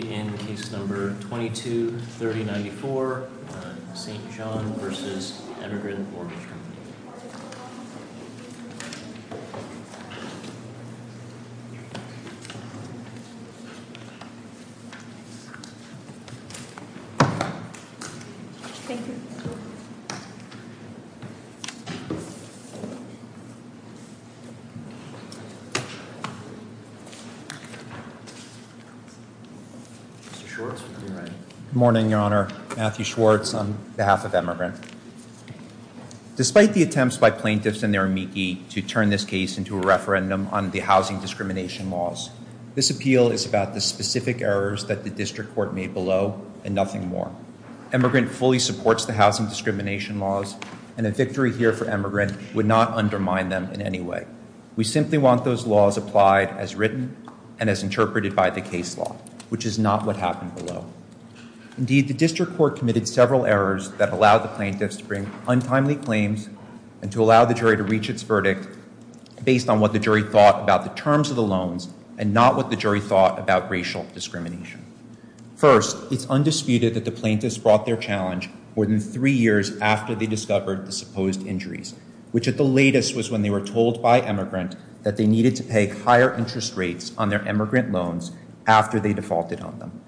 22 30 94 St. John v. Emigrant Mortgage Company. Good morning, Your Honor. Matthew Schwartz on behalf of Emigrant. Despite the attempts by plaintiffs and their amici to turn this case into a referendum on the housing discrimination laws, this appeal is about the specific errors that the district court made below and nothing more. Emigrant fully supports the housing discrimination laws and a victory here for Emigrant would not undermine them in any way. We simply want those laws applied as written and as Indeed, the district court committed several errors that allow the plaintiffs to bring untimely claims and to allow the jury to reach its verdict based on what the jury thought about the terms of the loans and not what the jury thought about racial discrimination. First, it's undisputed that the plaintiffs brought their challenge more than three years after they discovered the supposed injuries, which at the latest was when they were told by Emigrant that they needed to pay higher interest rates on their Emigrant loans after they faulted on them.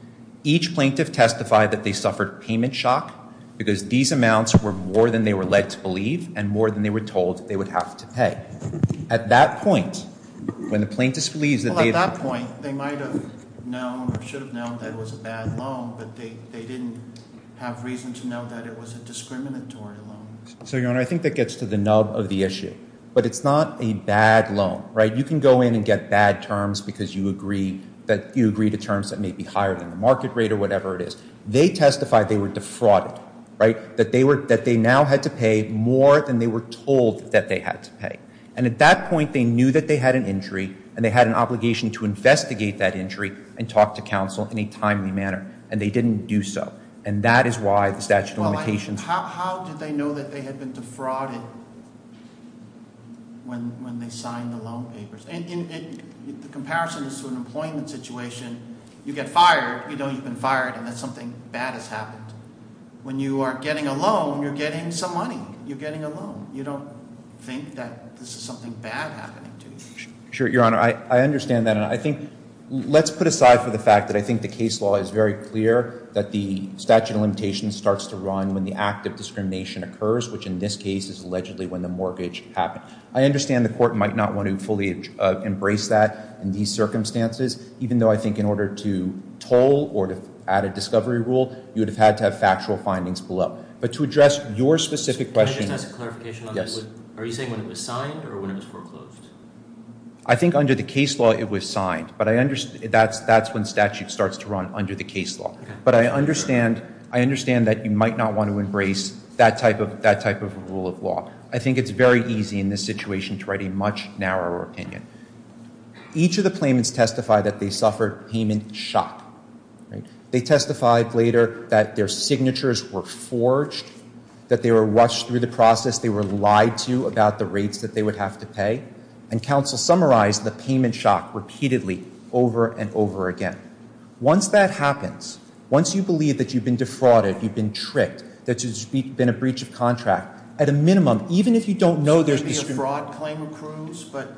Each plaintiff testified that they suffered payment shock because these amounts were more than they were led to believe and more than they were told they would have to pay. At that point, when the plaintiffs believes that they at that point, they might have known or should have known that it was a bad loan, but they they didn't have reason to know that it was a discriminatory loan. So, Your Honor, I think that gets to the nub of the issue, but it's not a bad loan, right? You can go in and get bad terms because you agree that you agree to terms that may be higher than the market rate or whatever it is. They testified they were defrauded, right? That they were that they now had to pay more than they were told that they had to pay. And at that point, they knew that they had an injury and they had an obligation to investigate that injury and talk to counsel in a timely manner, and they didn't do so. And that is why the statute of limitations... How did they know that they had been defrauded when they signed the loan papers? The comparison is to an employment situation. You get fired, you know you've been fired, and that's something bad has happened. When you are getting a loan, you're getting some money. You're getting a loan. You don't think that this is something bad happening to you. Sure, Your Honor, I understand that, and I think let's put aside for the fact that I think the case law is very clear that the statute of limitations starts to run when the act of discrimination occurs, which in this case is allegedly when the mortgage happened. I understand the court might not want to fully embrace that in these circumstances, even though I think in order to toll or to add a discovery rule, you would have had to have factual findings below. But to address your specific question... Can I just ask a clarification on that? Yes. Are you saying when it was signed or when it was foreclosed? I think under the case law it was signed, but I understand that's when statute starts to run under the case law. But I understand that you might not want to embrace that type of rule of law. I think it's very easy in this situation to write a much narrower opinion. Each of the claimants testified that they suffered payment shock. They testified later that their signatures were forged, that they were watched through the process, they were lied to about the rates that they would have to pay, and counsel summarized the payment shock repeatedly over and over again. Once that happens, once you believe that you've been defrauded, you've been in breach of contract, at a minimum, even if you don't know there's... Is there going to be a fraud claim accrues? But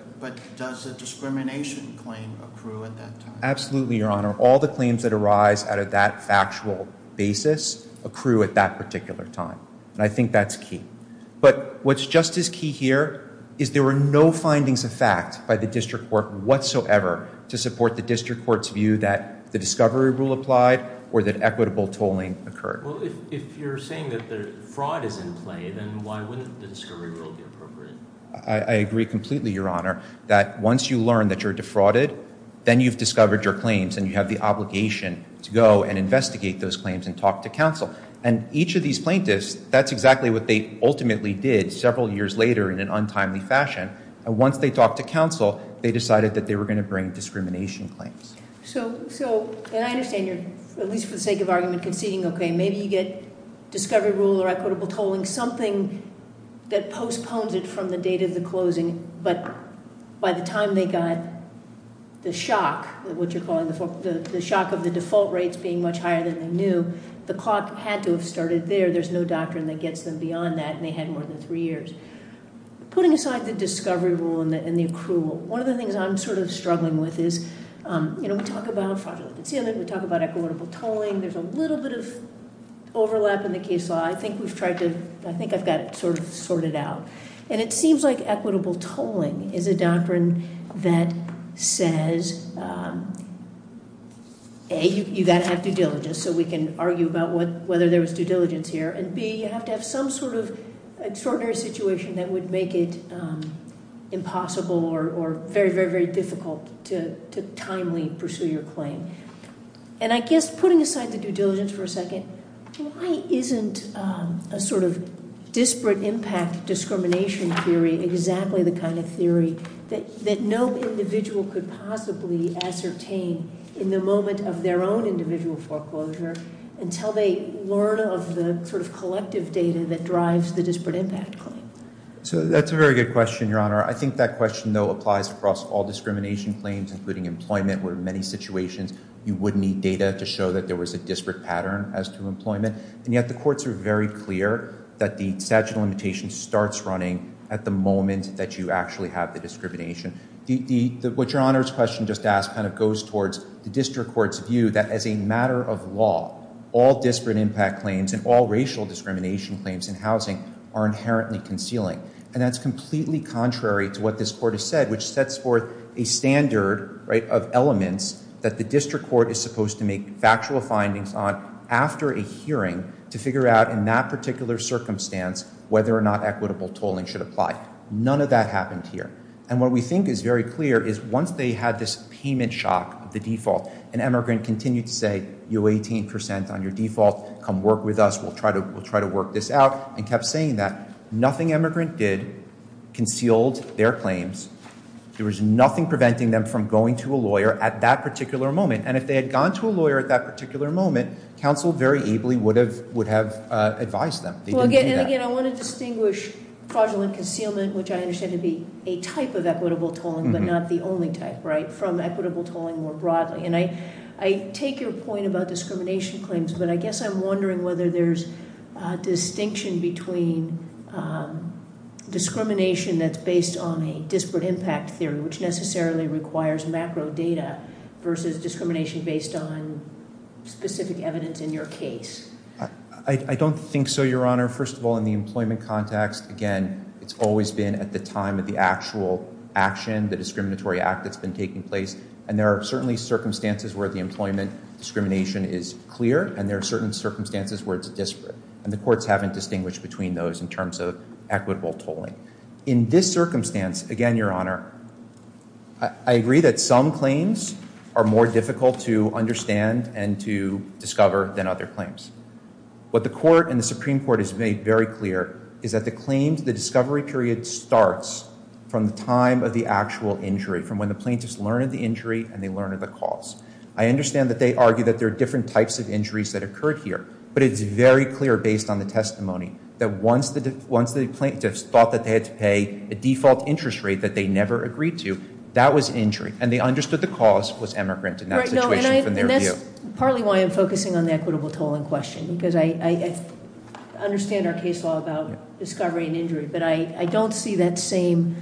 does a discrimination claim accrue at that time? Absolutely, Your Honor. All the claims that arise out of that factual basis accrue at that particular time. And I think that's key. But what's just as key here is there were no findings of fact by the district court whatsoever to support the district court's view that the discovery rule applied or that equitable tolling occurred. Well, if you're saying that the fraud is in play, then why wouldn't the discovery rule be appropriate? I agree completely, Your Honor, that once you learn that you're defrauded, then you've discovered your claims and you have the obligation to go and investigate those claims and talk to counsel. And each of these plaintiffs, that's exactly what they ultimately did several years later in an untimely fashion. And once they talked to counsel, they decided that they were going to bring discrimination claims. So, and I understand you're, at least for the sake of argument, conceding, okay, maybe you get discovery rule or equitable tolling, something that postpones it from the date of the closing. But by the time they got the shock, what you're calling the shock of the default rates being much higher than they knew, the clock had to have started there. There's no doctrine that gets them beyond that. And they had more than three years. Putting aside the discovery rule and the accrual, one of the things I'm sort of struggling with is, you know, we talk about fraudulent concealment, we talk about equitable tolling. There's a little bit of overlap in the case law. I think we've tried to, I think I've got it sort of sorted out. And it seems like equitable tolling is a doctrine that says, A, you've got to have due diligence so we can argue about whether there was due diligence here. And B, you have to have some sort of extraordinary situation that would make it impossible or very, very, very difficult to timely pursue your claim. And I guess putting aside the due diligence for a second, why isn't a sort of disparate impact discrimination theory exactly the kind of theory that no individual could possibly ascertain in the moment of their own individual foreclosure until they learn of the sort of collective data that drives the disparate impact claim? So that's a very good question, Your Honor. I think that question, though, applies across all discrimination claims, including employment, where in many situations you would need data to show that there was a disparate pattern as to employment. And yet the courts are very clear that the statute of limitations starts running at the moment that you actually have the discrimination. What Your Honor's question just asked kind of goes towards the district court's view that as a matter of law, all disparate impact claims and all racial discrimination claims in housing are inherently concealing. And that's completely contrary to what this court has said, which sets forth a standard of elements that the district court is supposed to make factual findings on after a hearing to figure out in that particular circumstance whether or not equitable tolling should apply. None of that happened here. And what we think is very clear is once they had this payment shock of the default, an emigrant continued to say, you owe 18% on your default. Come work with us. We'll try to work this out, and kept saying that. Nothing emigrant did concealed their claims. There was nothing preventing them from going to a lawyer at that particular moment. And if they had gone to a lawyer at that particular moment, counsel very ably would have advised them. Well, again, I want to distinguish fraudulent concealment, which I understand to be a type of equitable tolling, but not the only type, right, from equitable tolling more broadly. And I take your point about discrimination claims, but I guess I'm wondering whether there's a distinction between discrimination that's based on a disparate impact theory, which necessarily requires macro data, versus discrimination based on specific evidence in your case. I don't think so, Your Honor. First of all, in the employment context, again, it's always been at the time of the actual action, the discriminatory act that's been taking place. And there are certainly circumstances where the employment discrimination is clear, and there are certain circumstances where it's disparate. And the courts haven't distinguished between those in terms of equitable tolling. In this circumstance, again, Your Honor, I agree that some claims are more difficult to understand and to discover than other claims. What the court and the Supreme Court has made very clear is that the claims, the discovery period starts from the time of the actual injury, from when the plaintiffs learned the injury and they learned the cause. I understand that they argue that there are different types of injuries that occurred here. But it's very clear based on the testimony that once the plaintiffs thought that they had to pay a default interest rate that they never agreed to, that was injury. And they understood the cause was emigrant in that situation from their view. That's partly why I'm focusing on the equitable tolling question, because I understand our case law about discovery and injury. But I don't see that same,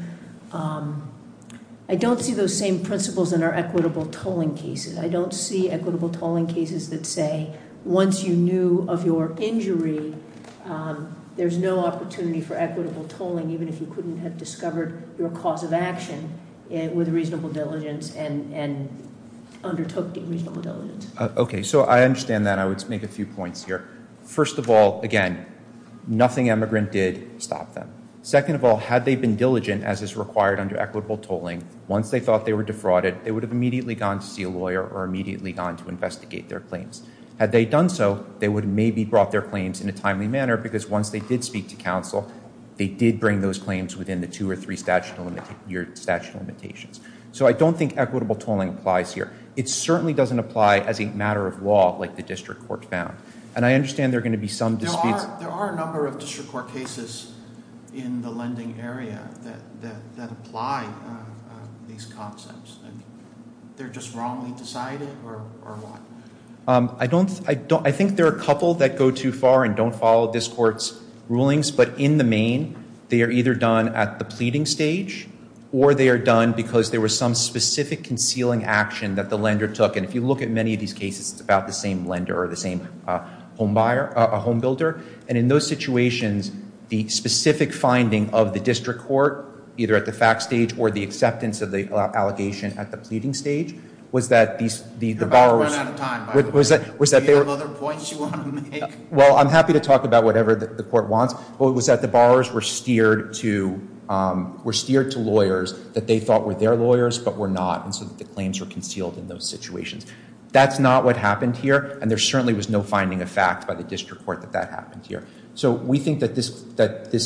I don't see those same principles in our equitable tolling cases. I don't see equitable tolling cases that say, once you knew of your injury, there's no opportunity for equitable tolling, even if you couldn't have discovered your cause of action with reasonable diligence, and undertook the reasonable diligence. Okay, so I understand that. I would make a few points here. First of all, again, nothing emigrant did stop them. Second of all, had they been diligent as is required under equitable tolling, once they thought they were defrauded, they would have immediately gone to see a lawyer or immediately gone to investigate their claims. Had they done so, they would have maybe brought their claims in a timely manner, because once they did speak to counsel, they did bring those claims within the two or three statute of limitations. So I don't think equitable tolling applies here. It certainly doesn't apply as a matter of law, like the district court found. And I understand there are going to be some disputes- There are a number of district court cases in the lending area that apply these concepts. They're just wrongly decided, or what? I think there are a couple that go too far and don't follow this court's rulings. But in the main, they are either done at the pleading stage, or they are done because there was some specific concealing action that the lender took. And if you look at many of these cases, it's about the same lender or the same homebuilder. And in those situations, the specific finding of the district court, either at the fact stage or the acceptance of the allegation at the pleading stage, was that the borrower- You're about to run out of time, by the way. Do you have other points you want to make? Well, I'm happy to talk about whatever the court wants, but it was that the borrowers were steered to lawyers that they thought were their lawyers but were not, and so the claims were concealed in those situations. That's not what happened here, and there certainly was no finding of fact by the district court that that happened here. So we think that this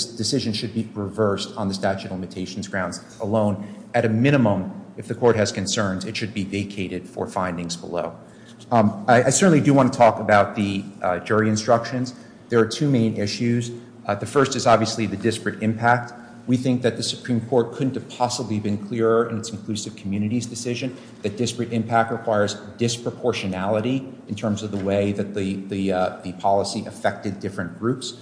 decision should be reversed on the statute of limitations grounds alone. At a minimum, if the court has concerns, it should be vacated for findings below. I certainly do want to talk about the jury instructions. There are two main issues. The first is obviously the disparate impact. We think that the Supreme Court couldn't have possibly been clearer in its inclusive communities decision that disparate impact requires disproportionality in terms of the way that the policy affected different groups.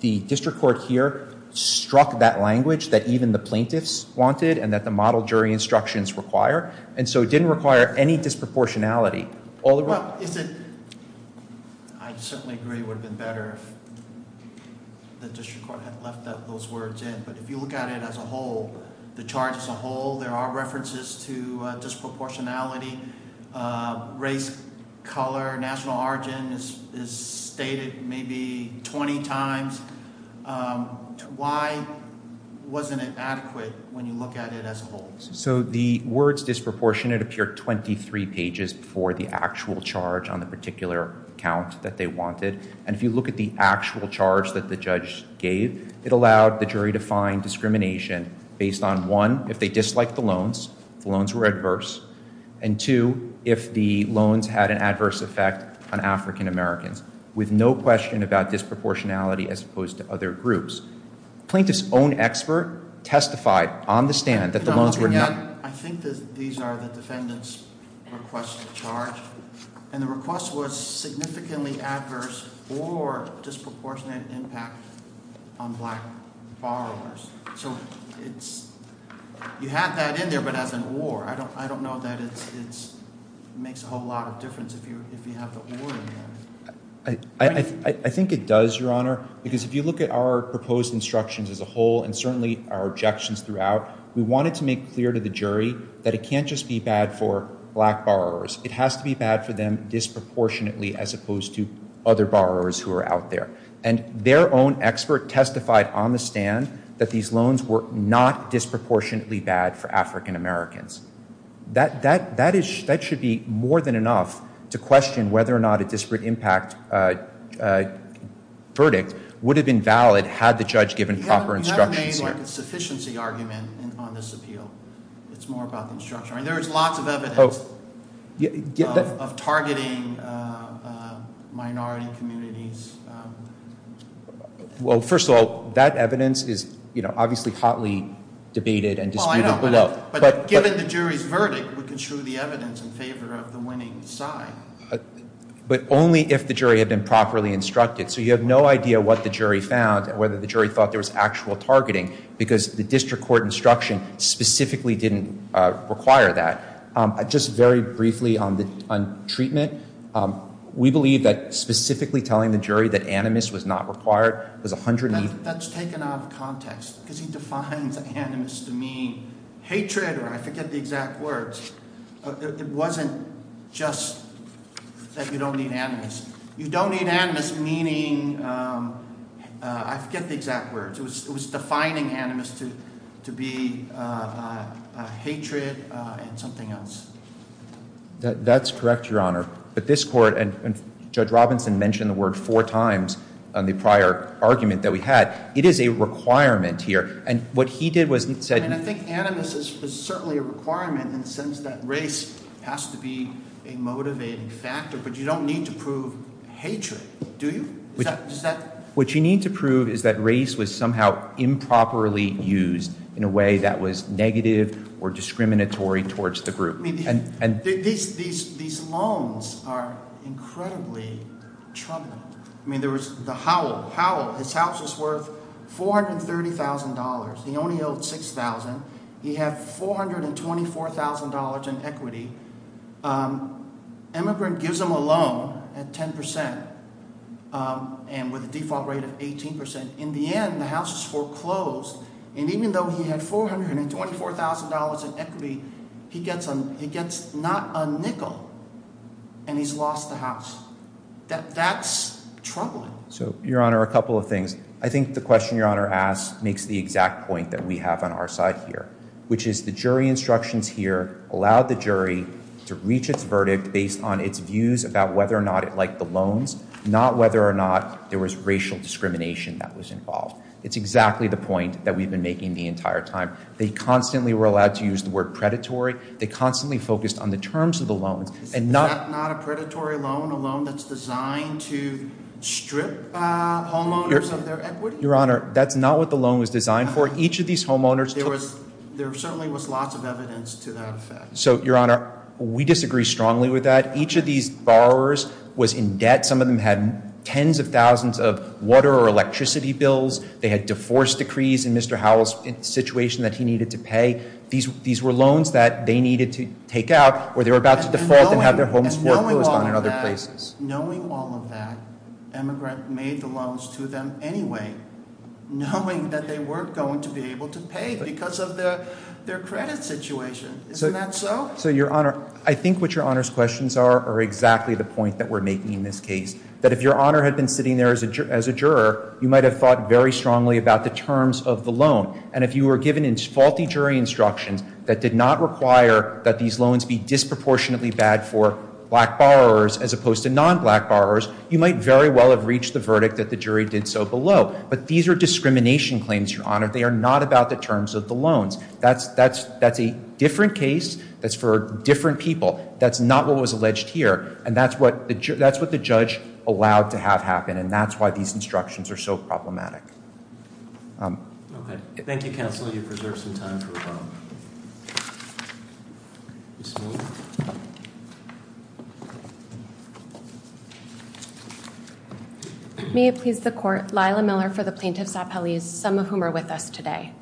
The district court here struck that language that even the plaintiffs wanted and that the model jury instructions require, and so it didn't require any disproportionality all around. Well, I certainly agree it would have been better if the district court had left those words in, but if you look at it as a whole, the charge as a whole, there are references to disproportionality, race, color, national origin is stated maybe 20 times. Why wasn't it adequate when you look at it as a whole? So the words disproportionate appear 23 pages before the actual charge on the particular account that they wanted, and if you look at the actual charge that the judge gave, it allowed the jury to find discrimination based on, one, if they disliked the loans, the loans were adverse, and two, if the loans had an adverse effect on African-Americans, with no question about disproportionality as opposed to other groups. Plaintiff's own expert testified on the stand that the loans were not- I think that these are the defendant's request of charge, and the request was significantly adverse or disproportionate impact on black borrowers. So you have that in there, but as an or, I don't know that it makes a whole lot of difference if you have the or in there. I think it does, Your Honor, because if you look at our proposed instructions as a whole, and certainly our objections throughout, we wanted to make clear to the jury that it can't just be bad for black borrowers. It has to be bad for them disproportionately as opposed to other borrowers who are out there. And their own expert testified on the stand that these loans were not disproportionately bad for African-Americans. That should be more than enough to question whether or not a disparate impact verdict would have been valid had the judge given proper instructions here. You haven't made a sufficiency argument on this appeal. It's more about the instruction. There is lots of evidence of targeting minority communities. Well, first of all, that evidence is obviously hotly debated and disputed below. But given the jury's verdict, we can show the evidence in favor of the winning side. But only if the jury had been properly instructed. So you have no idea what the jury found, whether the jury thought there was actual targeting, because the district court instruction specifically didn't require that. Just very briefly on treatment, we believe that specifically telling the jury that animus was not required was a hundred and- That's taken out of context, because he defines animus to mean hatred, or I forget the exact words. It wasn't just that you don't need animus. You don't need animus meaning, I forget the exact words. It was defining animus to be hatred and something else. That's correct, Your Honor. But this court, and Judge Robinson mentioned the word four times on the prior argument that we had, it is a requirement here. And what he did was he said- And I think animus is certainly a requirement in the sense that race has to be a motivating factor. But you don't need to prove hatred, do you? What you need to prove is that race was somehow improperly used in a way that was negative or discriminatory towards the group. These loans are incredibly troubling. I mean there was the Howell. Howell, his house was worth $430,000. He only owed $6,000. He had $424,000 in equity. Emigrant gives him a loan at 10 percent and with a default rate of 18 percent. In the end, the house was foreclosed. And even though he had $424,000 in equity, he gets not a nickel. And he's lost the house. That's troubling. So, Your Honor, a couple of things. I think the question Your Honor asked makes the exact point that we have on our side here. Which is the jury instructions here allowed the jury to reach its verdict based on its views about whether or not it liked the loans. Not whether or not there was racial discrimination that was involved. It's exactly the point that we've been making the entire time. They constantly were allowed to use the word predatory. They constantly focused on the terms of the loans. Is that not a predatory loan? A loan that's designed to strip homeowners of their equity? Your Honor, that's not what the loan was designed for. Each of these homeowners- There certainly was lots of evidence to that effect. So, Your Honor, we disagree strongly with that. Each of these borrowers was in debt. Some of them had tens of thousands of water or electricity bills. They had divorce decrees in Mr. Howell's situation that he needed to pay. These were loans that they needed to take out or they were about to default and have their homes foreclosed on in other places. Knowing all of that, Emigrant made the loans to them anyway, knowing that they weren't going to be able to pay because of their credit situation. Isn't that so? So, Your Honor, I think what Your Honor's questions are are exactly the point that we're making in this case. That if Your Honor had been sitting there as a juror, you might have thought very strongly about the terms of the loan. And if you were given faulty jury instructions that did not require that these loans be disproportionately bad for black borrowers as opposed to non-black borrowers, you might very well have reached the verdict that the jury did so below. But these are discrimination claims, Your Honor. They are not about the terms of the loans. That's a different case that's for different people. That's not what was alleged here. And that's what the judge allowed to have happen. And that's why these instructions are so problematic. Okay. Thank you, Counselor. You've preserved some time for rebuttal. May it please the Court. Lila Miller for the Plaintiff's Appellees, some of whom are with us today.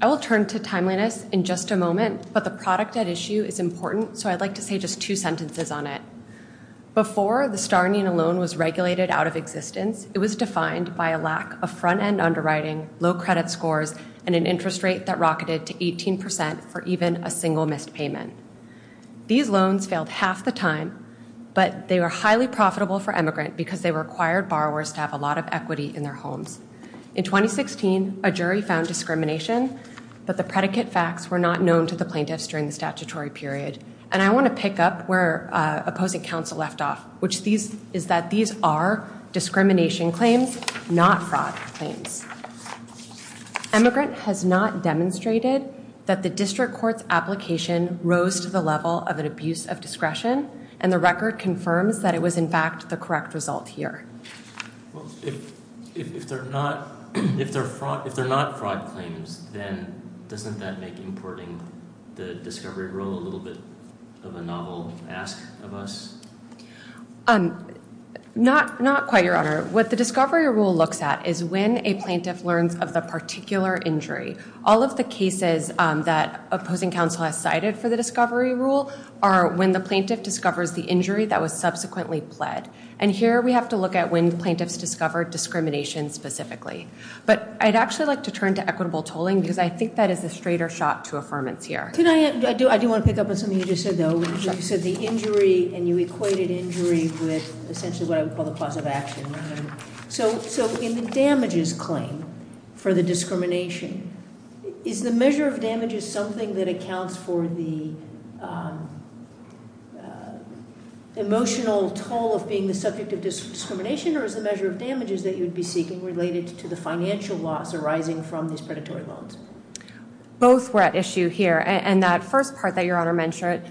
I will turn to timeliness in just a moment, but the product at issue is important, so I'd like to say just two sentences on it. Before the Starnian loan was regulated out of existence, it was defined by a lack of front-end underwriting, low credit scores, and an interest rate that rocketed to 18% for even a single missed payment. These loans failed half the time, but they were highly profitable for emigrant because they required borrowers to have a lot of equity in their homes. In 2016, a jury found discrimination, but the predicate facts were not known to the plaintiffs during the statutory period. And I want to pick up where opposing counsel left off, which is that these are discrimination claims, not fraud claims. Emigrant has not demonstrated that the district court's application rose to the level of an abuse of discretion, and the record confirms that it was, in fact, the correct result here. If they're not fraud claims, then doesn't that make importing the discovery rule a little bit of a novel ask of us? Not quite, Your Honor. What the discovery rule looks at is when a plaintiff learns of the particular injury. All of the cases that opposing counsel has cited for the discovery rule are when the plaintiff discovers the injury that was subsequently pled. And here we have to look at when plaintiffs discover discrimination specifically. But I'd actually like to turn to equitable tolling, because I think that is a straighter shot to affirmance here. Can I, I do want to pick up on something you just said, though. You said the injury, and you equated injury with essentially what I would call the cause of action. So in the damages claim for the discrimination, is the measure of damages something that accounts for the emotional toll of being the subject of discrimination, or is the measure of damages that you'd be seeking related to the financial loss arising from these predatory loans? Both were at issue here, and that first part that Your Honor mentioned,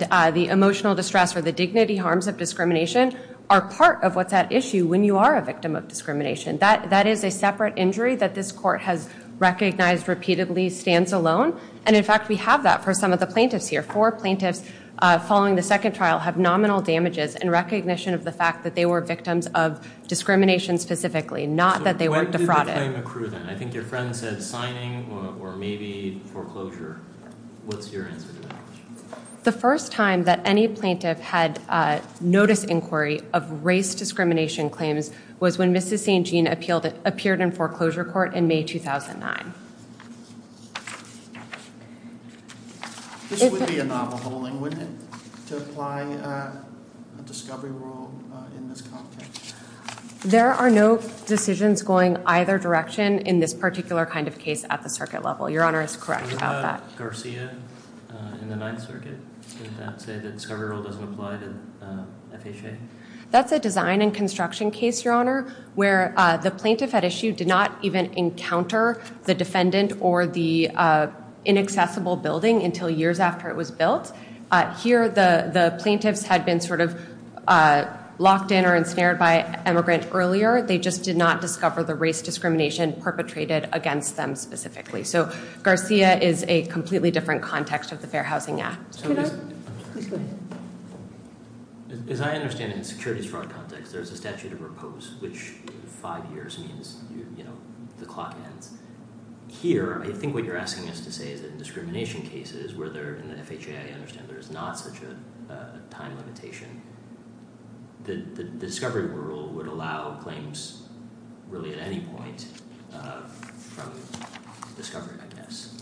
the emotional distress or the dignity harms of discrimination are part of what's at issue when you are a victim of discrimination. That is a separate injury that this court has recognized repeatedly stands alone. And in fact, we have that for some of the plaintiffs here. Four plaintiffs following the second trial have nominal damages in recognition of the fact that they were victims of discrimination specifically, not that they were defrauded. So when did the claim accrue then? I think your friend said signing or maybe foreclosure. What's your answer to that? The first time that any plaintiff had notice inquiry of race discrimination claims was when Mrs. St. Jean appeared in foreclosure court in May 2009. This would be a novel holding, wouldn't it, to apply a discovery rule in this context? There are no decisions going either direction in this particular kind of case at the circuit level. Your Honor is correct about that. What about Garcia in the Ninth Circuit? Did that say that discovery rule doesn't apply to FHA? That's a design and construction case, Your Honor, where the plaintiff at issue did not even encounter the defendant or the inaccessible building until years after it was built. Here the plaintiffs had been sort of locked in or ensnared by an immigrant earlier. They just did not discover the race discrimination perpetrated against them specifically. So Garcia is a completely different context of the Fair Housing Act. As I understand it, in securities fraud context, there's a statute of repose, which in five years means the clock ends. Here, I think what you're asking us to say is that in discrimination cases, where in the FHA I understand there is not such a time limitation, the discovery rule would allow claims really at any point from discovery, I guess.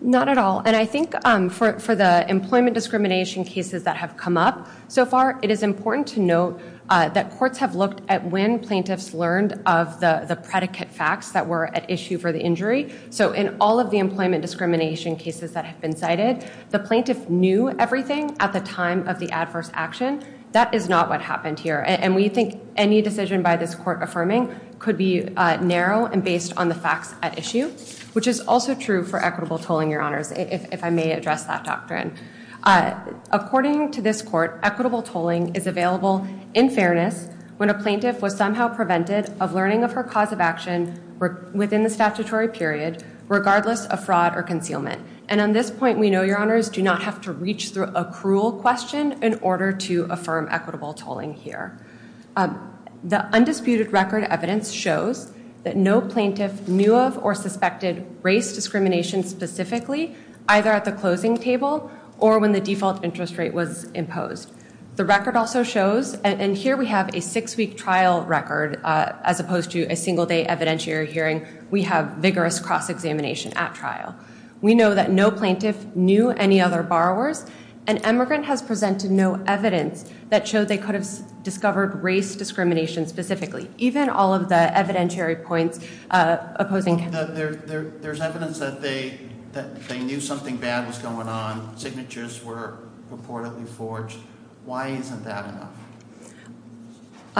Not at all. And I think for the employment discrimination cases that have come up so far, it is important to note that courts have looked at when plaintiffs learned of the predicate facts that were at issue for the injury. So in all of the employment discrimination cases that have been cited, the plaintiff knew everything at the time of the adverse action. That is not what happened here. And we think any decision by this court affirming could be narrow and based on the facts at issue, which is also true for equitable tolling, Your Honors, if I may address that doctrine. According to this court, equitable tolling is available in fairness when a plaintiff was somehow prevented of learning of her cause of action within the statutory period, regardless of fraud or concealment. And on this point, we know, Your Honors, do not have to reach through a cruel question in order to affirm equitable tolling here. The undisputed record evidence shows that no plaintiff knew of or suspected race discrimination specifically, either at the closing table or when the default interest rate was imposed. The record also shows, and here we have a six-week trial record as opposed to a single-day evidentiary hearing. We have vigorous cross-examination at trial. We know that no plaintiff knew any other borrowers, and emigrant has presented no evidence that showed they could have discovered race discrimination specifically, even all of the evidentiary points opposing. There's evidence that they knew something bad was going on. Signatures were purportedly forged. Why isn't that enough?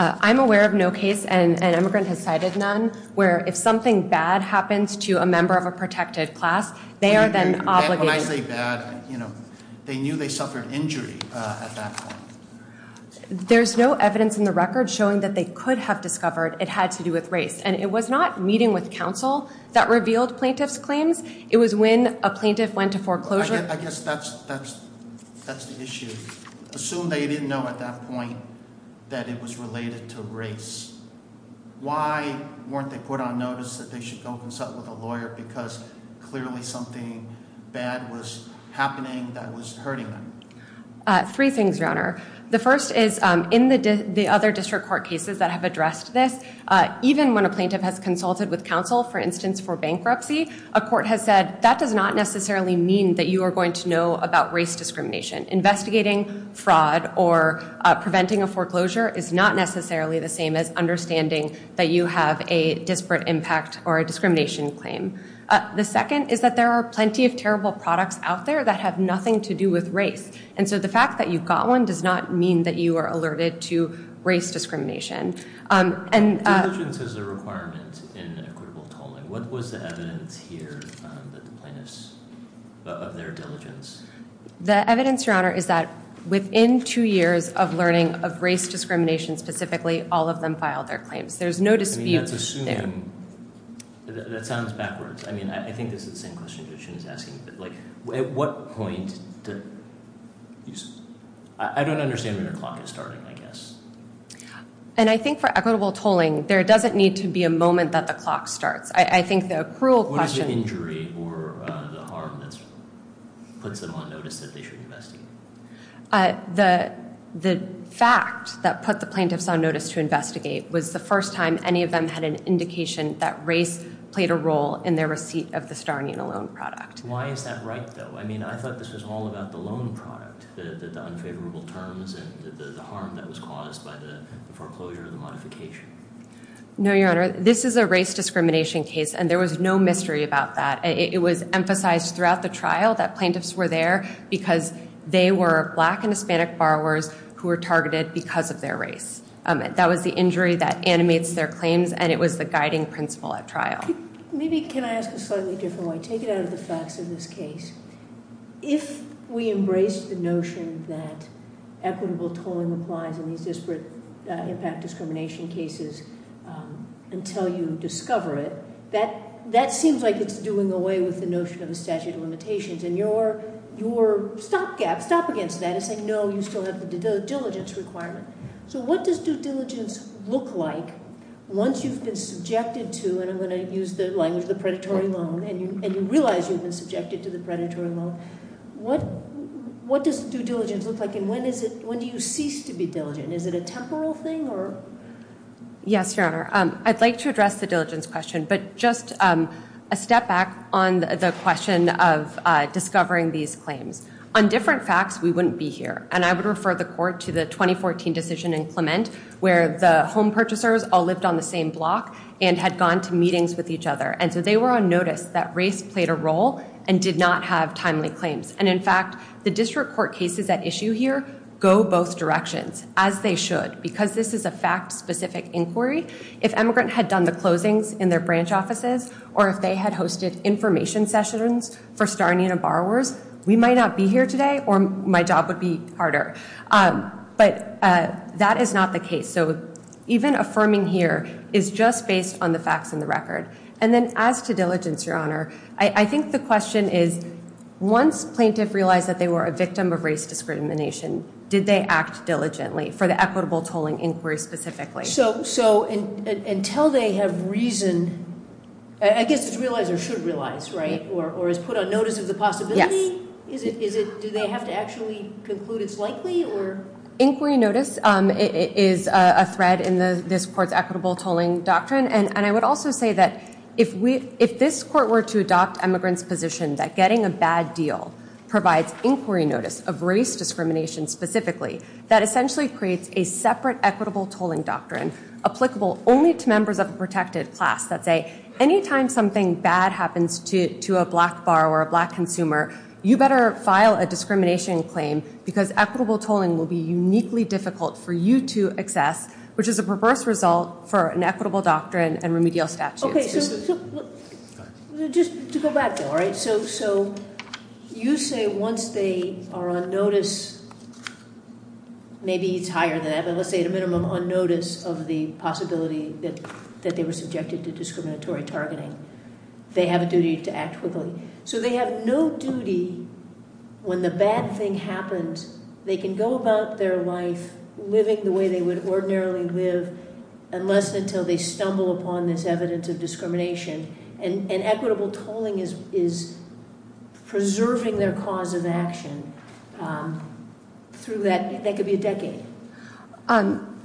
I'm aware of no case, and emigrant has cited none, where if something bad happens to a member of a protected class, they are then obligated- When I say bad, they knew they suffered injury at that point. There's no evidence in the record showing that they could have discovered it had to do with race, and it was not meeting with counsel that revealed plaintiff's claims. It was when a plaintiff went to foreclosure- I guess that's the issue. Assume they didn't know at that point that it was related to race. Why weren't they put on notice that they should go consult with a lawyer because clearly something bad was happening that was hurting them? Three things, Your Honor. The first is in the other district court cases that have addressed this, even when a plaintiff has consulted with counsel, for instance, for bankruptcy, a court has said that does not necessarily mean that you are going to know about race discrimination. Investigating fraud or preventing a foreclosure is not necessarily the same as understanding that you have a disparate impact or a discrimination claim. The second is that there are plenty of terrible products out there that have nothing to do with race, and so the fact that you've got one does not mean that you are alerted to race discrimination. Diligence is a requirement in equitable tolling. What was the evidence here that the plaintiffs- of their diligence? The evidence, Your Honor, is that within two years of learning of race discrimination specifically, all of them filed their claims. There's no dispute there. I mean, that's assuming- that sounds backwards. I mean, I think this is the same question that she was asking. At what point did- I don't understand when the clock is starting, I guess. And I think for equitable tolling, there doesn't need to be a moment that the clock starts. I think the accrual question- The injury or the harm that puts them on notice that they should investigate. The fact that put the plaintiffs on notice to investigate was the first time any of them had an indication that race played a role in their receipt of the Starnia loan product. Why is that right, though? I mean, I thought this was all about the loan product, the unfavorable terms and the harm that was caused by the foreclosure or the modification. No, Your Honor. This is a race discrimination case, and there was no mystery about that. It was emphasized throughout the trial that plaintiffs were there because they were black and Hispanic borrowers who were targeted because of their race. That was the injury that animates their claims, and it was the guiding principle at trial. Maybe can I ask a slightly different way? Take it out of the facts of this case. If we embrace the notion that equitable tolling applies in these disparate impact discrimination cases until you discover it, that seems like it's doing away with the notion of the statute of limitations, and your stopgap, stop against that is saying, no, you still have the diligence requirement. So what does due diligence look like once you've been subjected to, and I'm going to use the language of the predatory loan, and you realize you've been subjected to the predatory loan, what does due diligence look like, and when do you cease to be diligent? Is it a temporal thing? Yes, Your Honor. I'd like to address the diligence question, but just a step back on the question of discovering these claims. On different facts, we wouldn't be here, and I would refer the court to the 2014 decision in Clement where the home purchasers all lived on the same block and had gone to meetings with each other, and so they were on notice that race played a role and did not have timely claims, and in fact, the district court cases at issue here go both directions, as they should, because this is a fact-specific inquiry. If emigrant had done the closings in their branch offices, or if they had hosted information sessions for Star and Una borrowers, we might not be here today, or my job would be harder, but that is not the case. So even affirming here is just based on the facts and the record. And then as to diligence, Your Honor, I think the question is, once plaintiff realized that they were a victim of race discrimination, did they act diligently for the equitable tolling inquiry specifically? So until they have reason, I guess it's realized or should realize, right, or is put on notice of the possibility, do they have to actually conclude it's likely? Inquiry notice is a thread in this court's equitable tolling doctrine, and I would also say that if this court were to adopt emigrant's position that getting a bad deal provides inquiry notice of race discrimination specifically, that essentially creates a separate equitable tolling doctrine applicable only to members of a protected class that say, anytime something bad happens to a black borrower or a black consumer, you better file a discrimination claim because equitable tolling will be uniquely difficult for you to access, which is a perverse result for an equitable doctrine and remedial statutes. Okay, so just to go back, though, all right? So you say once they are on notice, maybe it's higher than that, but let's say at a minimum on notice of the possibility that they were subjected to discriminatory targeting, they have a duty to act quickly. So they have no duty when the bad thing happens, they can go about their life living the way they would ordinarily live unless and until they stumble upon this evidence of discrimination, and equitable tolling is preserving their cause of action through that. That could be a decade.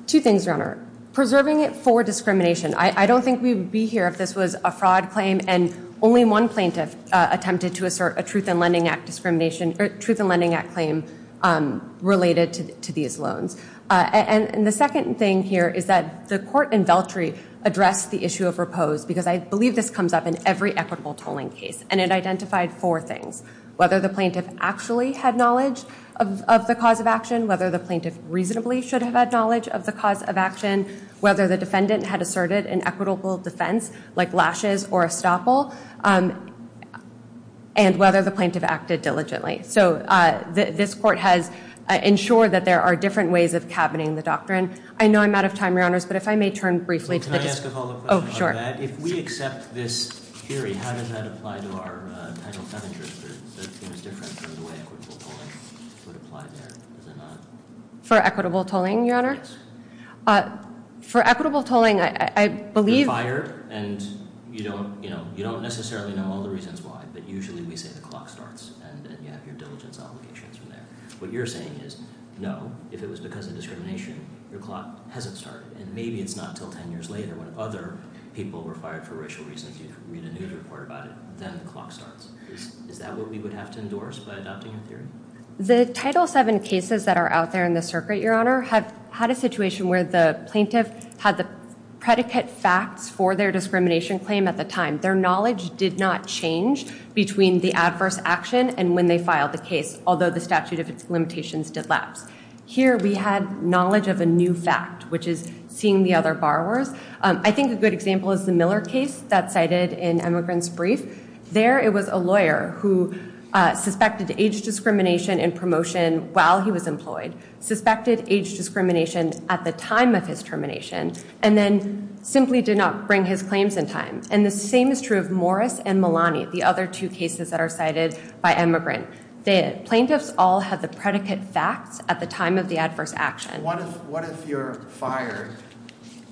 Two things, Your Honor. Preserving it for discrimination. I don't think we would be here if this was a fraud claim, and only one plaintiff attempted to assert a Truth in Lending Act discrimination or Truth in Lending Act claim related to these loans. And the second thing here is that the court in Veltri addressed the issue of repose because I believe this comes up in every equitable tolling case, and it identified four things, whether the plaintiff actually had knowledge of the cause of action, whether the plaintiff reasonably should have had knowledge of the cause of action, whether the defendant had asserted an equitable defense like lashes or estoppel, and whether the plaintiff acted diligently. So this court has ensured that there are different ways of cabining the doctrine. I know I'm out of time, Your Honors, but if I may turn briefly to the discussion. Can I ask a follow-up question on that? Oh, sure. If we accept this theory, how does that apply to our title 7 jurisdiction? Is it different from the way equitable tolling would apply there? For equitable tolling, Your Honor? Yes. For equitable tolling, I believe— You're fired, and you don't necessarily know all the reasons why, but usually we say the clock starts, and then you have your diligence obligations from there. What you're saying is, no, if it was because of discrimination, your clock hasn't started, and maybe it's not until 10 years later when other people were fired for racial reasons. You read a news report about it, then the clock starts. Is that what we would have to endorse by adopting your theory? The title 7 cases that are out there in the circuit, Your Honor, have had a situation where the plaintiff had the predicate facts for their discrimination claim at the time. Their knowledge did not change between the adverse action and when they filed the case, although the statute of its limitations did lapse. Here we had knowledge of a new fact, which is seeing the other borrowers. I think a good example is the Miller case that's cited in Emigrant's Brief. There it was a lawyer who suspected age discrimination in promotion while he was employed, suspected age discrimination at the time of his termination, and then simply did not bring his claims in time. And the same is true of Morris and Malani, the other two cases that are cited by Emigrant. The plaintiffs all had the predicate facts at the time of the adverse action. What if you're fired,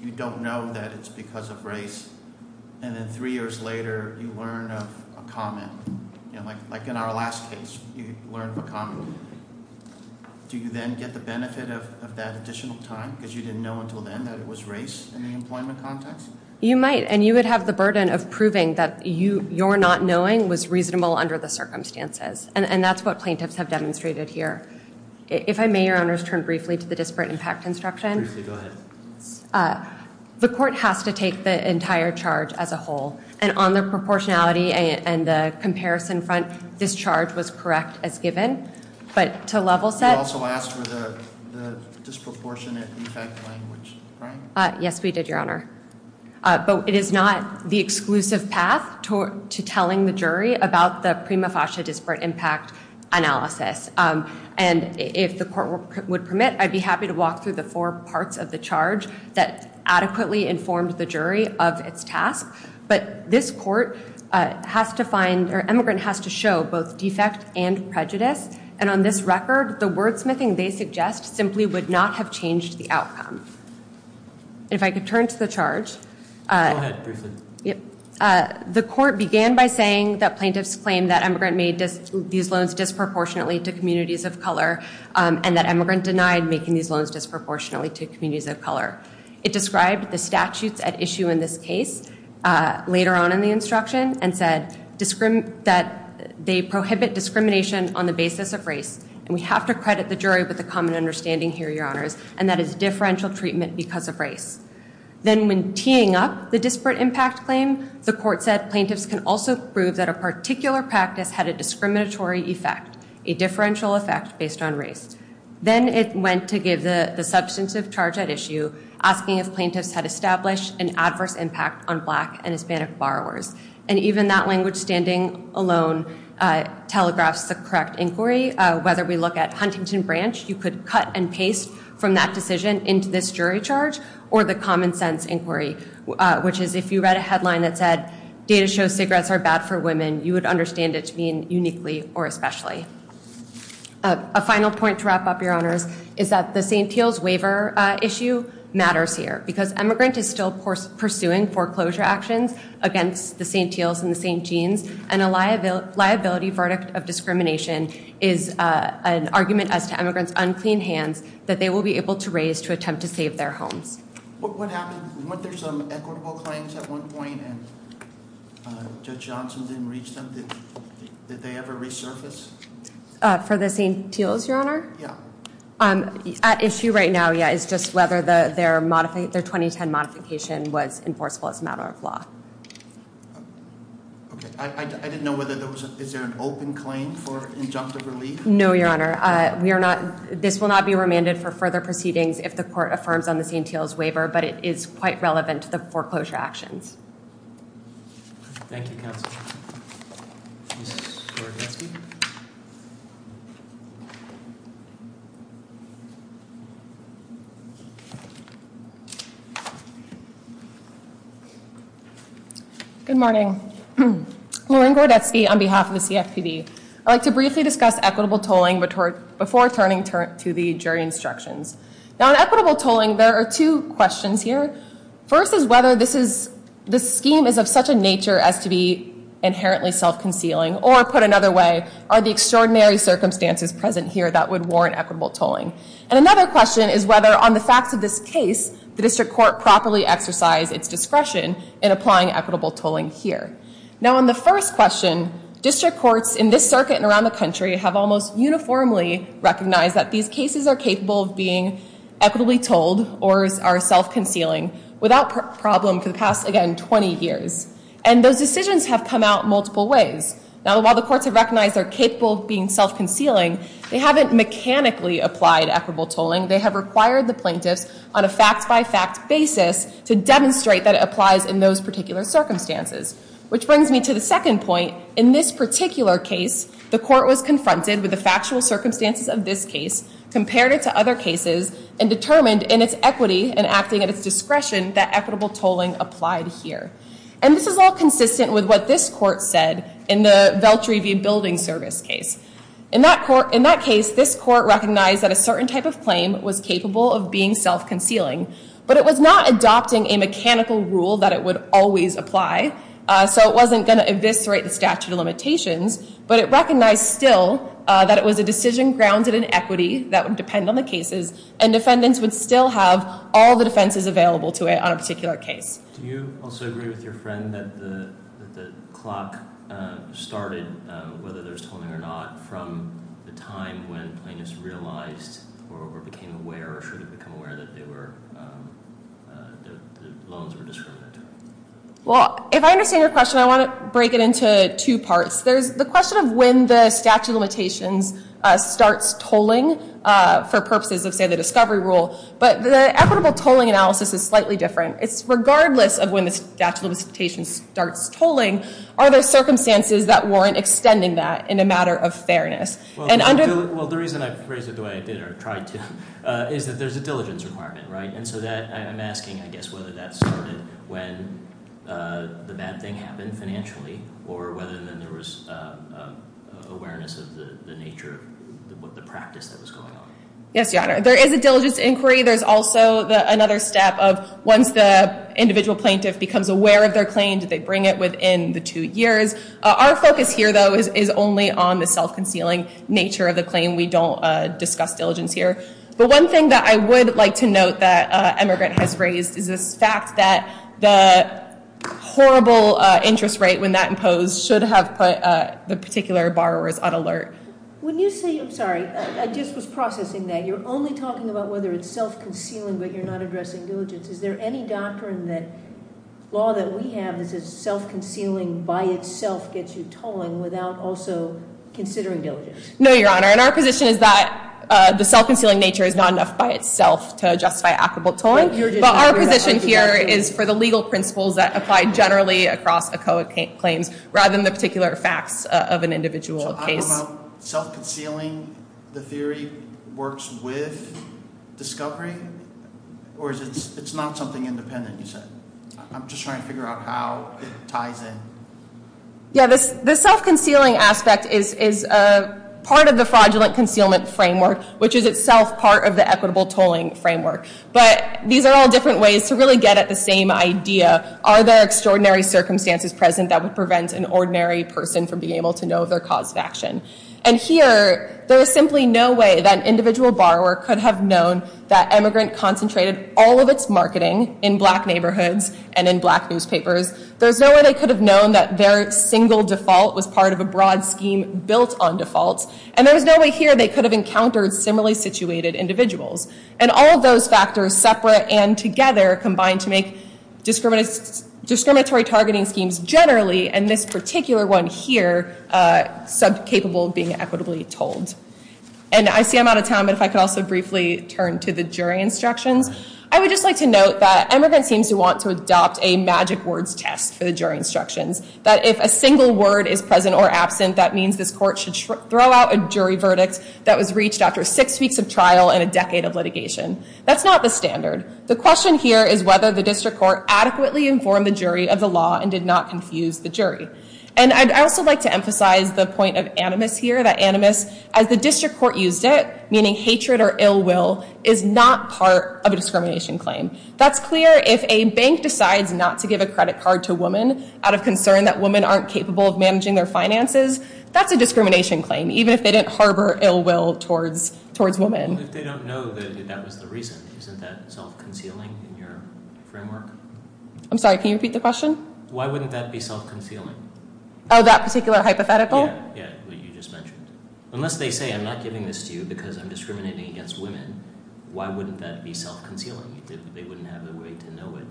you don't know that it's because of race, and then three years later you learn of a comment? Like in our last case, you learn of a comment. Do you then get the benefit of that additional time because you didn't know until then that it was race in the employment context? You might, and you would have the burden of proving that your not knowing was reasonable under the circumstances. And that's what plaintiffs have demonstrated here. If I may, Your Honors, turn briefly to the disparate impact instruction. Briefly, go ahead. The court has to take the entire charge as a whole. And on the proportionality and the comparison front, this charge was correct as given. But to level set- You also asked for the disproportionate impact language, right? Yes, we did, Your Honor. But it is not the exclusive path to telling the jury about the prima facie disparate impact analysis. And if the court would permit, I'd be happy to walk through the four parts of the charge that adequately informed the jury of its task. But this court has to find- or emigrant has to show both defect and prejudice. And on this record, the wordsmithing they suggest simply would not have changed the outcome. If I could turn to the charge. Go ahead, Briefly. The court began by saying that plaintiffs claimed that emigrant made these loans disproportionately to communities of color. And that emigrant denied making these loans disproportionately to communities of color. It described the statutes at issue in this case later on in the instruction and said that they prohibit discrimination on the basis of race. And we have to credit the jury with a common understanding here, Your Honors, and that is differential treatment because of race. Then when teeing up the disparate impact claim, the court said plaintiffs can also prove that a particular practice had a discriminatory effect, a differential effect based on race. Then it went to give the substantive charge at issue, asking if plaintiffs had established an adverse impact on black and Hispanic borrowers. And even that language standing alone telegraphs the correct inquiry. Whether we look at Huntington Branch, you could cut and paste from that decision into this jury charge or the common sense inquiry. Which is if you read a headline that said data shows cigarettes are bad for women, you would understand it to mean uniquely or especially. A final point to wrap up, Your Honors, is that the St. Teal's waiver issue matters here. Because emigrant is still pursuing foreclosure actions against the St. Teal's and the St. Jean's. And a liability verdict of discrimination is an argument as to emigrant's unclean hands that they will be able to raise to attempt to save their homes. What happened? Weren't there some equitable claims at one point and Judge Johnson didn't reach them? Did they ever resurface? For the St. Teal's, Your Honor? Yeah. At issue right now, yeah, is just whether their 2010 modification was enforceable as a matter of law. I didn't know whether there was an open claim for injunctive relief. No, Your Honor. This will not be remanded for further proceedings if the court affirms on the St. Teal's waiver. But it is quite relevant to the foreclosure actions. Thank you, Counsel. Ms. Gordetsky. Good morning. Lauren Gordetsky on behalf of the CFPB. I'd like to briefly discuss equitable tolling before turning to the jury instructions. Now, in equitable tolling, there are two questions here. First is whether this scheme is of such a nature as to be inherently self-concealing. Or put another way, are the extraordinary circumstances present here that would warrant equitable tolling? And another question is whether, on the facts of this case, the district court properly exercised its discretion in applying equitable tolling here. Now, on the first question, district courts in this circuit and around the country have almost uniformly recognized that these cases are capable of being equitably tolled or are self-concealing without problem for the past, again, 20 years. And those decisions have come out multiple ways. Now, while the courts have recognized they're capable of being self-concealing, they haven't mechanically applied equitable tolling. They have required the plaintiffs on a fact-by-fact basis to demonstrate that it applies in those particular circumstances. Which brings me to the second point. In this particular case, the court was confronted with the factual circumstances of this case, compared it to other cases, and determined in its equity and acting at its discretion that equitable tolling applied here. And this is all consistent with what this court said in the Veltri v. Building Service case. In that case, this court recognized that a certain type of claim was capable of being self-concealing, but it was not adopting a mechanical rule that it would always apply. So it wasn't going to eviscerate the statute of limitations, but it recognized still that it was a decision grounded in equity that would depend on the cases, and defendants would still have all the defenses available to it on a particular case. Do you also agree with your friend that the clock started, whether there was tolling or not, from the time when plaintiffs realized or became aware or should have become aware that the loans were discriminatory? Well, if I understand your question, I want to break it into two parts. There's the question of when the statute of limitations starts tolling for purposes of, say, the discovery rule. But the equitable tolling analysis is slightly different. It's regardless of when the statute of limitations starts tolling, are there circumstances that warrant extending that in a matter of fairness? Well, the reason I phrased it the way I did or tried to is that there's a diligence requirement, right? And so I'm asking, I guess, whether that started when the bad thing happened financially or whether then there was awareness of the nature of the practice that was going on. Yes, Your Honor. There is a diligence inquiry. There's also another step of once the individual plaintiff becomes aware of their claim, did they bring it within the two years? Our focus here, though, is only on the self-concealing nature of the claim. We don't discuss diligence here. But one thing that I would like to note that Emigrant has raised is this fact that the horrible interest rate when that imposed should have put the particular borrowers on alert. When you say, I'm sorry, I just was processing that. You're only talking about whether it's self-concealing but you're not addressing diligence. Is there any doctrine that law that we have that says self-concealing by itself gets you tolling without also considering diligence? No, Your Honor. And our position is that the self-concealing nature is not enough by itself to justify equitable tolling. But our position here is for the legal principles that apply generally across ACOA claims rather than the particular facts of an individual case. So I'm about self-concealing. The theory works with discovery? Or it's not something independent, you said? I'm just trying to figure out how it ties in. Yeah, the self-concealing aspect is part of the fraudulent concealment framework, which is itself part of the equitable tolling framework. But these are all different ways to really get at the same idea. Are there extraordinary circumstances present that would prevent an ordinary person from being able to know their cause of action? And here, there is simply no way that an individual borrower could have known that emigrant concentrated all of its marketing in black neighborhoods and in black newspapers. There's no way they could have known that their single default was part of a broad scheme built on defaults. And there was no way here they could have encountered similarly situated individuals. And all of those factors separate and together combine to make discriminatory targeting schemes generally, and this particular one here, capable of being equitably told. And I see I'm out of time, but if I could also briefly turn to the jury instructions. I would just like to note that emigrants seem to want to adopt a magic words test for the jury instructions. That if a single word is present or absent, that means this court should throw out a jury verdict that was reached after six weeks of trial and a decade of litigation. That's not the standard. The question here is whether the district court adequately informed the jury of the law and did not confuse the jury. And I'd also like to emphasize the point of animus here. That animus, as the district court used it, meaning hatred or ill will, is not part of a discrimination claim. That's clear if a bank decides not to give a credit card to a woman out of concern that women aren't capable of managing their finances. That's a discrimination claim, even if they didn't harbor ill will towards women. If they don't know that that was the reason, isn't that self-concealing in your framework? I'm sorry, can you repeat the question? Why wouldn't that be self-concealing? Oh, that particular hypothetical? Yeah, yeah, what you just mentioned. Unless they say, I'm not giving this to you because I'm discriminating against women, why wouldn't that be self-concealing? They wouldn't have a way to know it.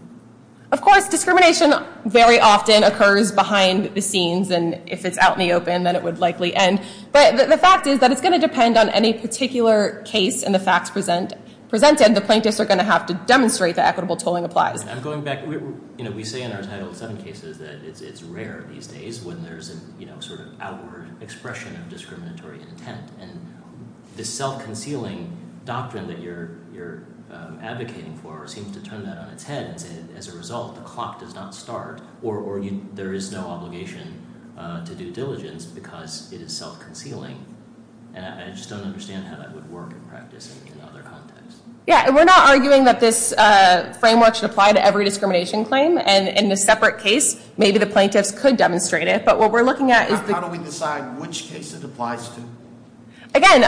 Of course, discrimination very often occurs behind the scenes. And if it's out in the open, then it would likely end. But the fact is that it's going to depend on any particular case and the facts presented. The plaintiffs are going to have to demonstrate that equitable tolling applies. I'm going back. We say in our Title VII cases that it's rare these days when there's an outward expression of discriminatory intent. And this self-concealing doctrine that you're advocating for seems to turn that on its head and say, as a result, the clock does not start. Or there is no obligation to due diligence because it is self-concealing. And I just don't understand how that would work in practice in other contexts. Yeah, and we're not arguing that this framework should apply to every discrimination claim. And in a separate case, maybe the plaintiffs could demonstrate it. But what we're looking at is the- How do we decide which case it applies to? Again,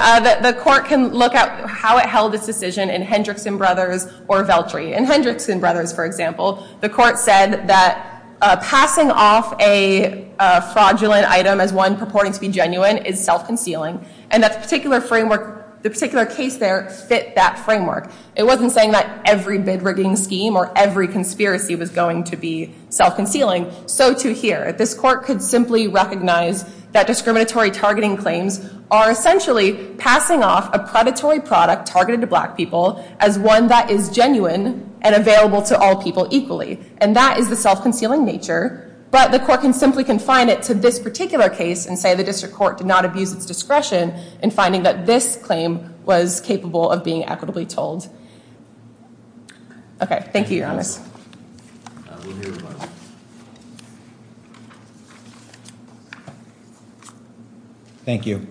the court can look at how it held its decision in Hendrickson Brothers or Veltri. In Hendrickson Brothers, for example, the court said that passing off a fraudulent item as one purporting to be genuine is self-concealing. And that the particular case there fit that framework. It wasn't saying that every bid rigging scheme or every conspiracy was going to be self-concealing. So too here. This court could simply recognize that discriminatory targeting claims are essentially passing off a predatory product targeted to black people as one that is genuine and available to all people equally. And that is the self-concealing nature. But the court can simply confine it to this particular case and say the district court did not abuse its discretion in finding that this claim was capable of being equitably told. Okay. Thank you, Your Honor. Thank you.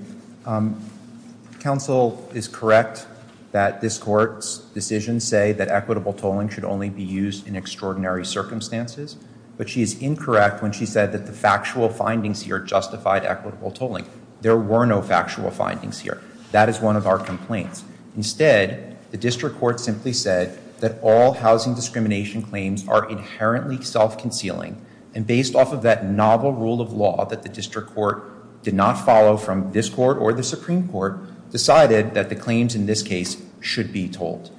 Counsel is correct that this court's decision say that equitable tolling should only be used in extraordinary circumstances. But she is incorrect when she said that the factual findings here justified equitable tolling. There were no factual findings here. That is one of our complaints. Instead, the district court simply said that all housing discrimination claims are inherently self-concealing. And based off of that novel rule of law that the district court did not follow from this court or the Supreme Court decided that the claims in this case should be told.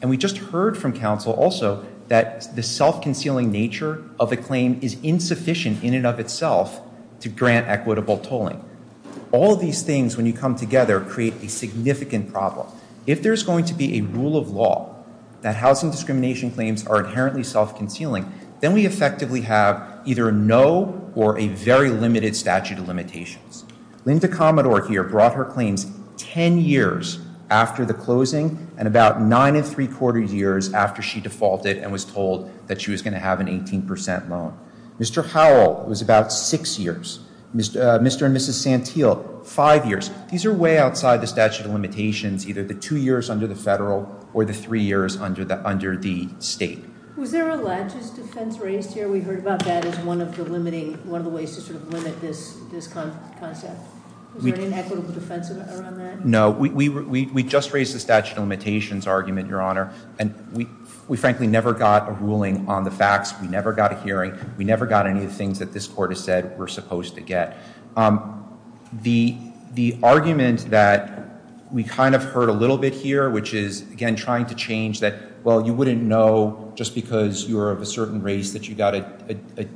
And we just heard from counsel also that the self-concealing nature of a claim is insufficient in and of itself to grant equitable tolling. All of these things, when you come together, create a significant problem. If there's going to be a rule of law that housing discrimination claims are inherently self-concealing, then we effectively have either a no or a very limited statute of limitations. Linda Commodore here brought her claims ten years after the closing and about nine and three quarters years after she defaulted and was told that she was going to have an 18% loan. Mr. Howell was about six years. Mr. and Mrs. Santil, five years. These are way outside the statute of limitations, either the two years under the federal or the three years under the state. Was there a latches defense raised here? We heard about that as one of the ways to sort of limit this concept. Was there an inequitable defense around that? No. We just raised the statute of limitations argument, Your Honor. And we frankly never got a ruling on the facts. We never got a hearing. We never got any of the things that this court has said we're supposed to get. The argument that we kind of heard a little bit here, which is, again, trying to change that, well, you wouldn't know just because you're of a certain race that you got a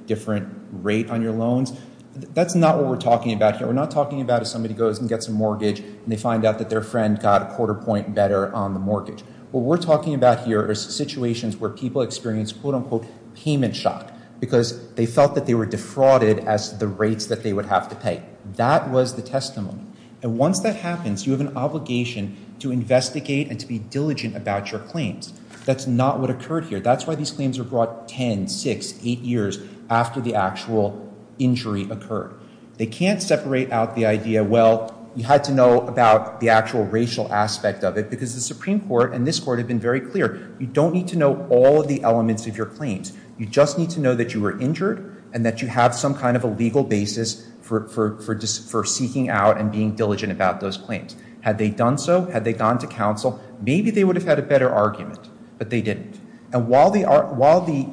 different rate on your loans. That's not what we're talking about here. We're not talking about if somebody goes and gets a mortgage and they find out that their friend got a quarter point better on the mortgage. What we're talking about here are situations where people experience, quote unquote, payment shock because they felt that they were defrauded as the rates that they would have to pay. That was the testament. And once that happens, you have an obligation to investigate and to be diligent about your claims. That's not what occurred here. That's why these claims were brought 10, 6, 8 years after the actual injury occurred. They can't separate out the idea, well, you had to know about the actual racial aspect of it because the Supreme Court and this court have been very clear. You don't need to know all of the elements of your claims. You just need to know that you were injured and that you have some kind of a legal basis for seeking out and being diligent about those claims. Had they done so? Had they gone to counsel? Maybe they would have had a better argument, but they didn't. And while the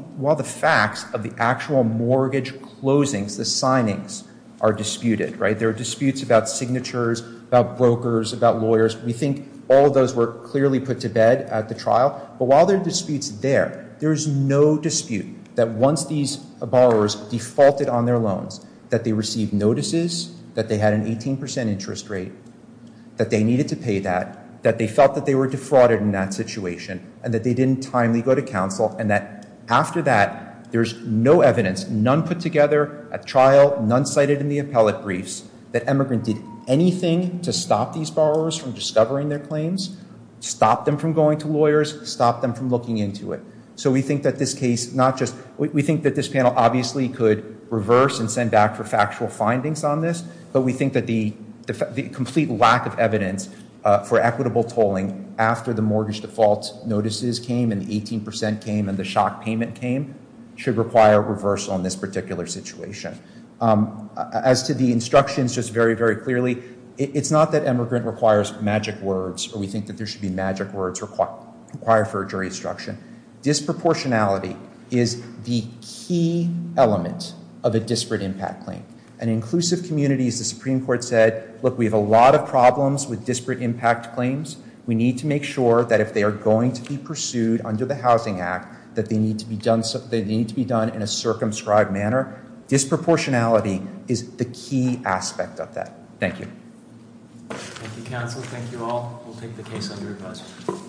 facts of the actual mortgage closings, the signings, are disputed, right? There are disputes about signatures, about brokers, about lawyers. We think all of those were clearly put to bed at the trial. But while there are disputes there, there is no dispute that once these borrowers defaulted on their loans, that they received notices, that they had an 18 percent interest rate, that they needed to pay that, that they felt that they were defrauded in that situation, and that they didn't timely go to counsel, and that after that, there's no evidence, none put together at trial, none cited in the appellate briefs, that Emigrant did anything to stop these borrowers from discovering their claims, stop them from going to lawyers, stop them from looking into it. So we think that this case, not just, we think that this panel obviously could reverse and send back for factual findings on this, but we think that the complete lack of evidence for equitable tolling after the mortgage default notices came, and the 18 percent came, and the shock payment came, should require a reverse on this particular situation. As to the instructions, just very, very clearly, it's not that Emigrant requires magic words, or we think that there should be magic words required for a jury instruction. Disproportionality is the key element of a disparate impact claim. In inclusive communities, the Supreme Court said, look, we have a lot of problems with disparate impact claims. We need to make sure that if they are going to be pursued under the Housing Act, that they need to be done in a circumscribed manner. Disproportionality is the key aspect of that. Thank you. Thank you, counsel. Thank you all. We'll take the case under advisory.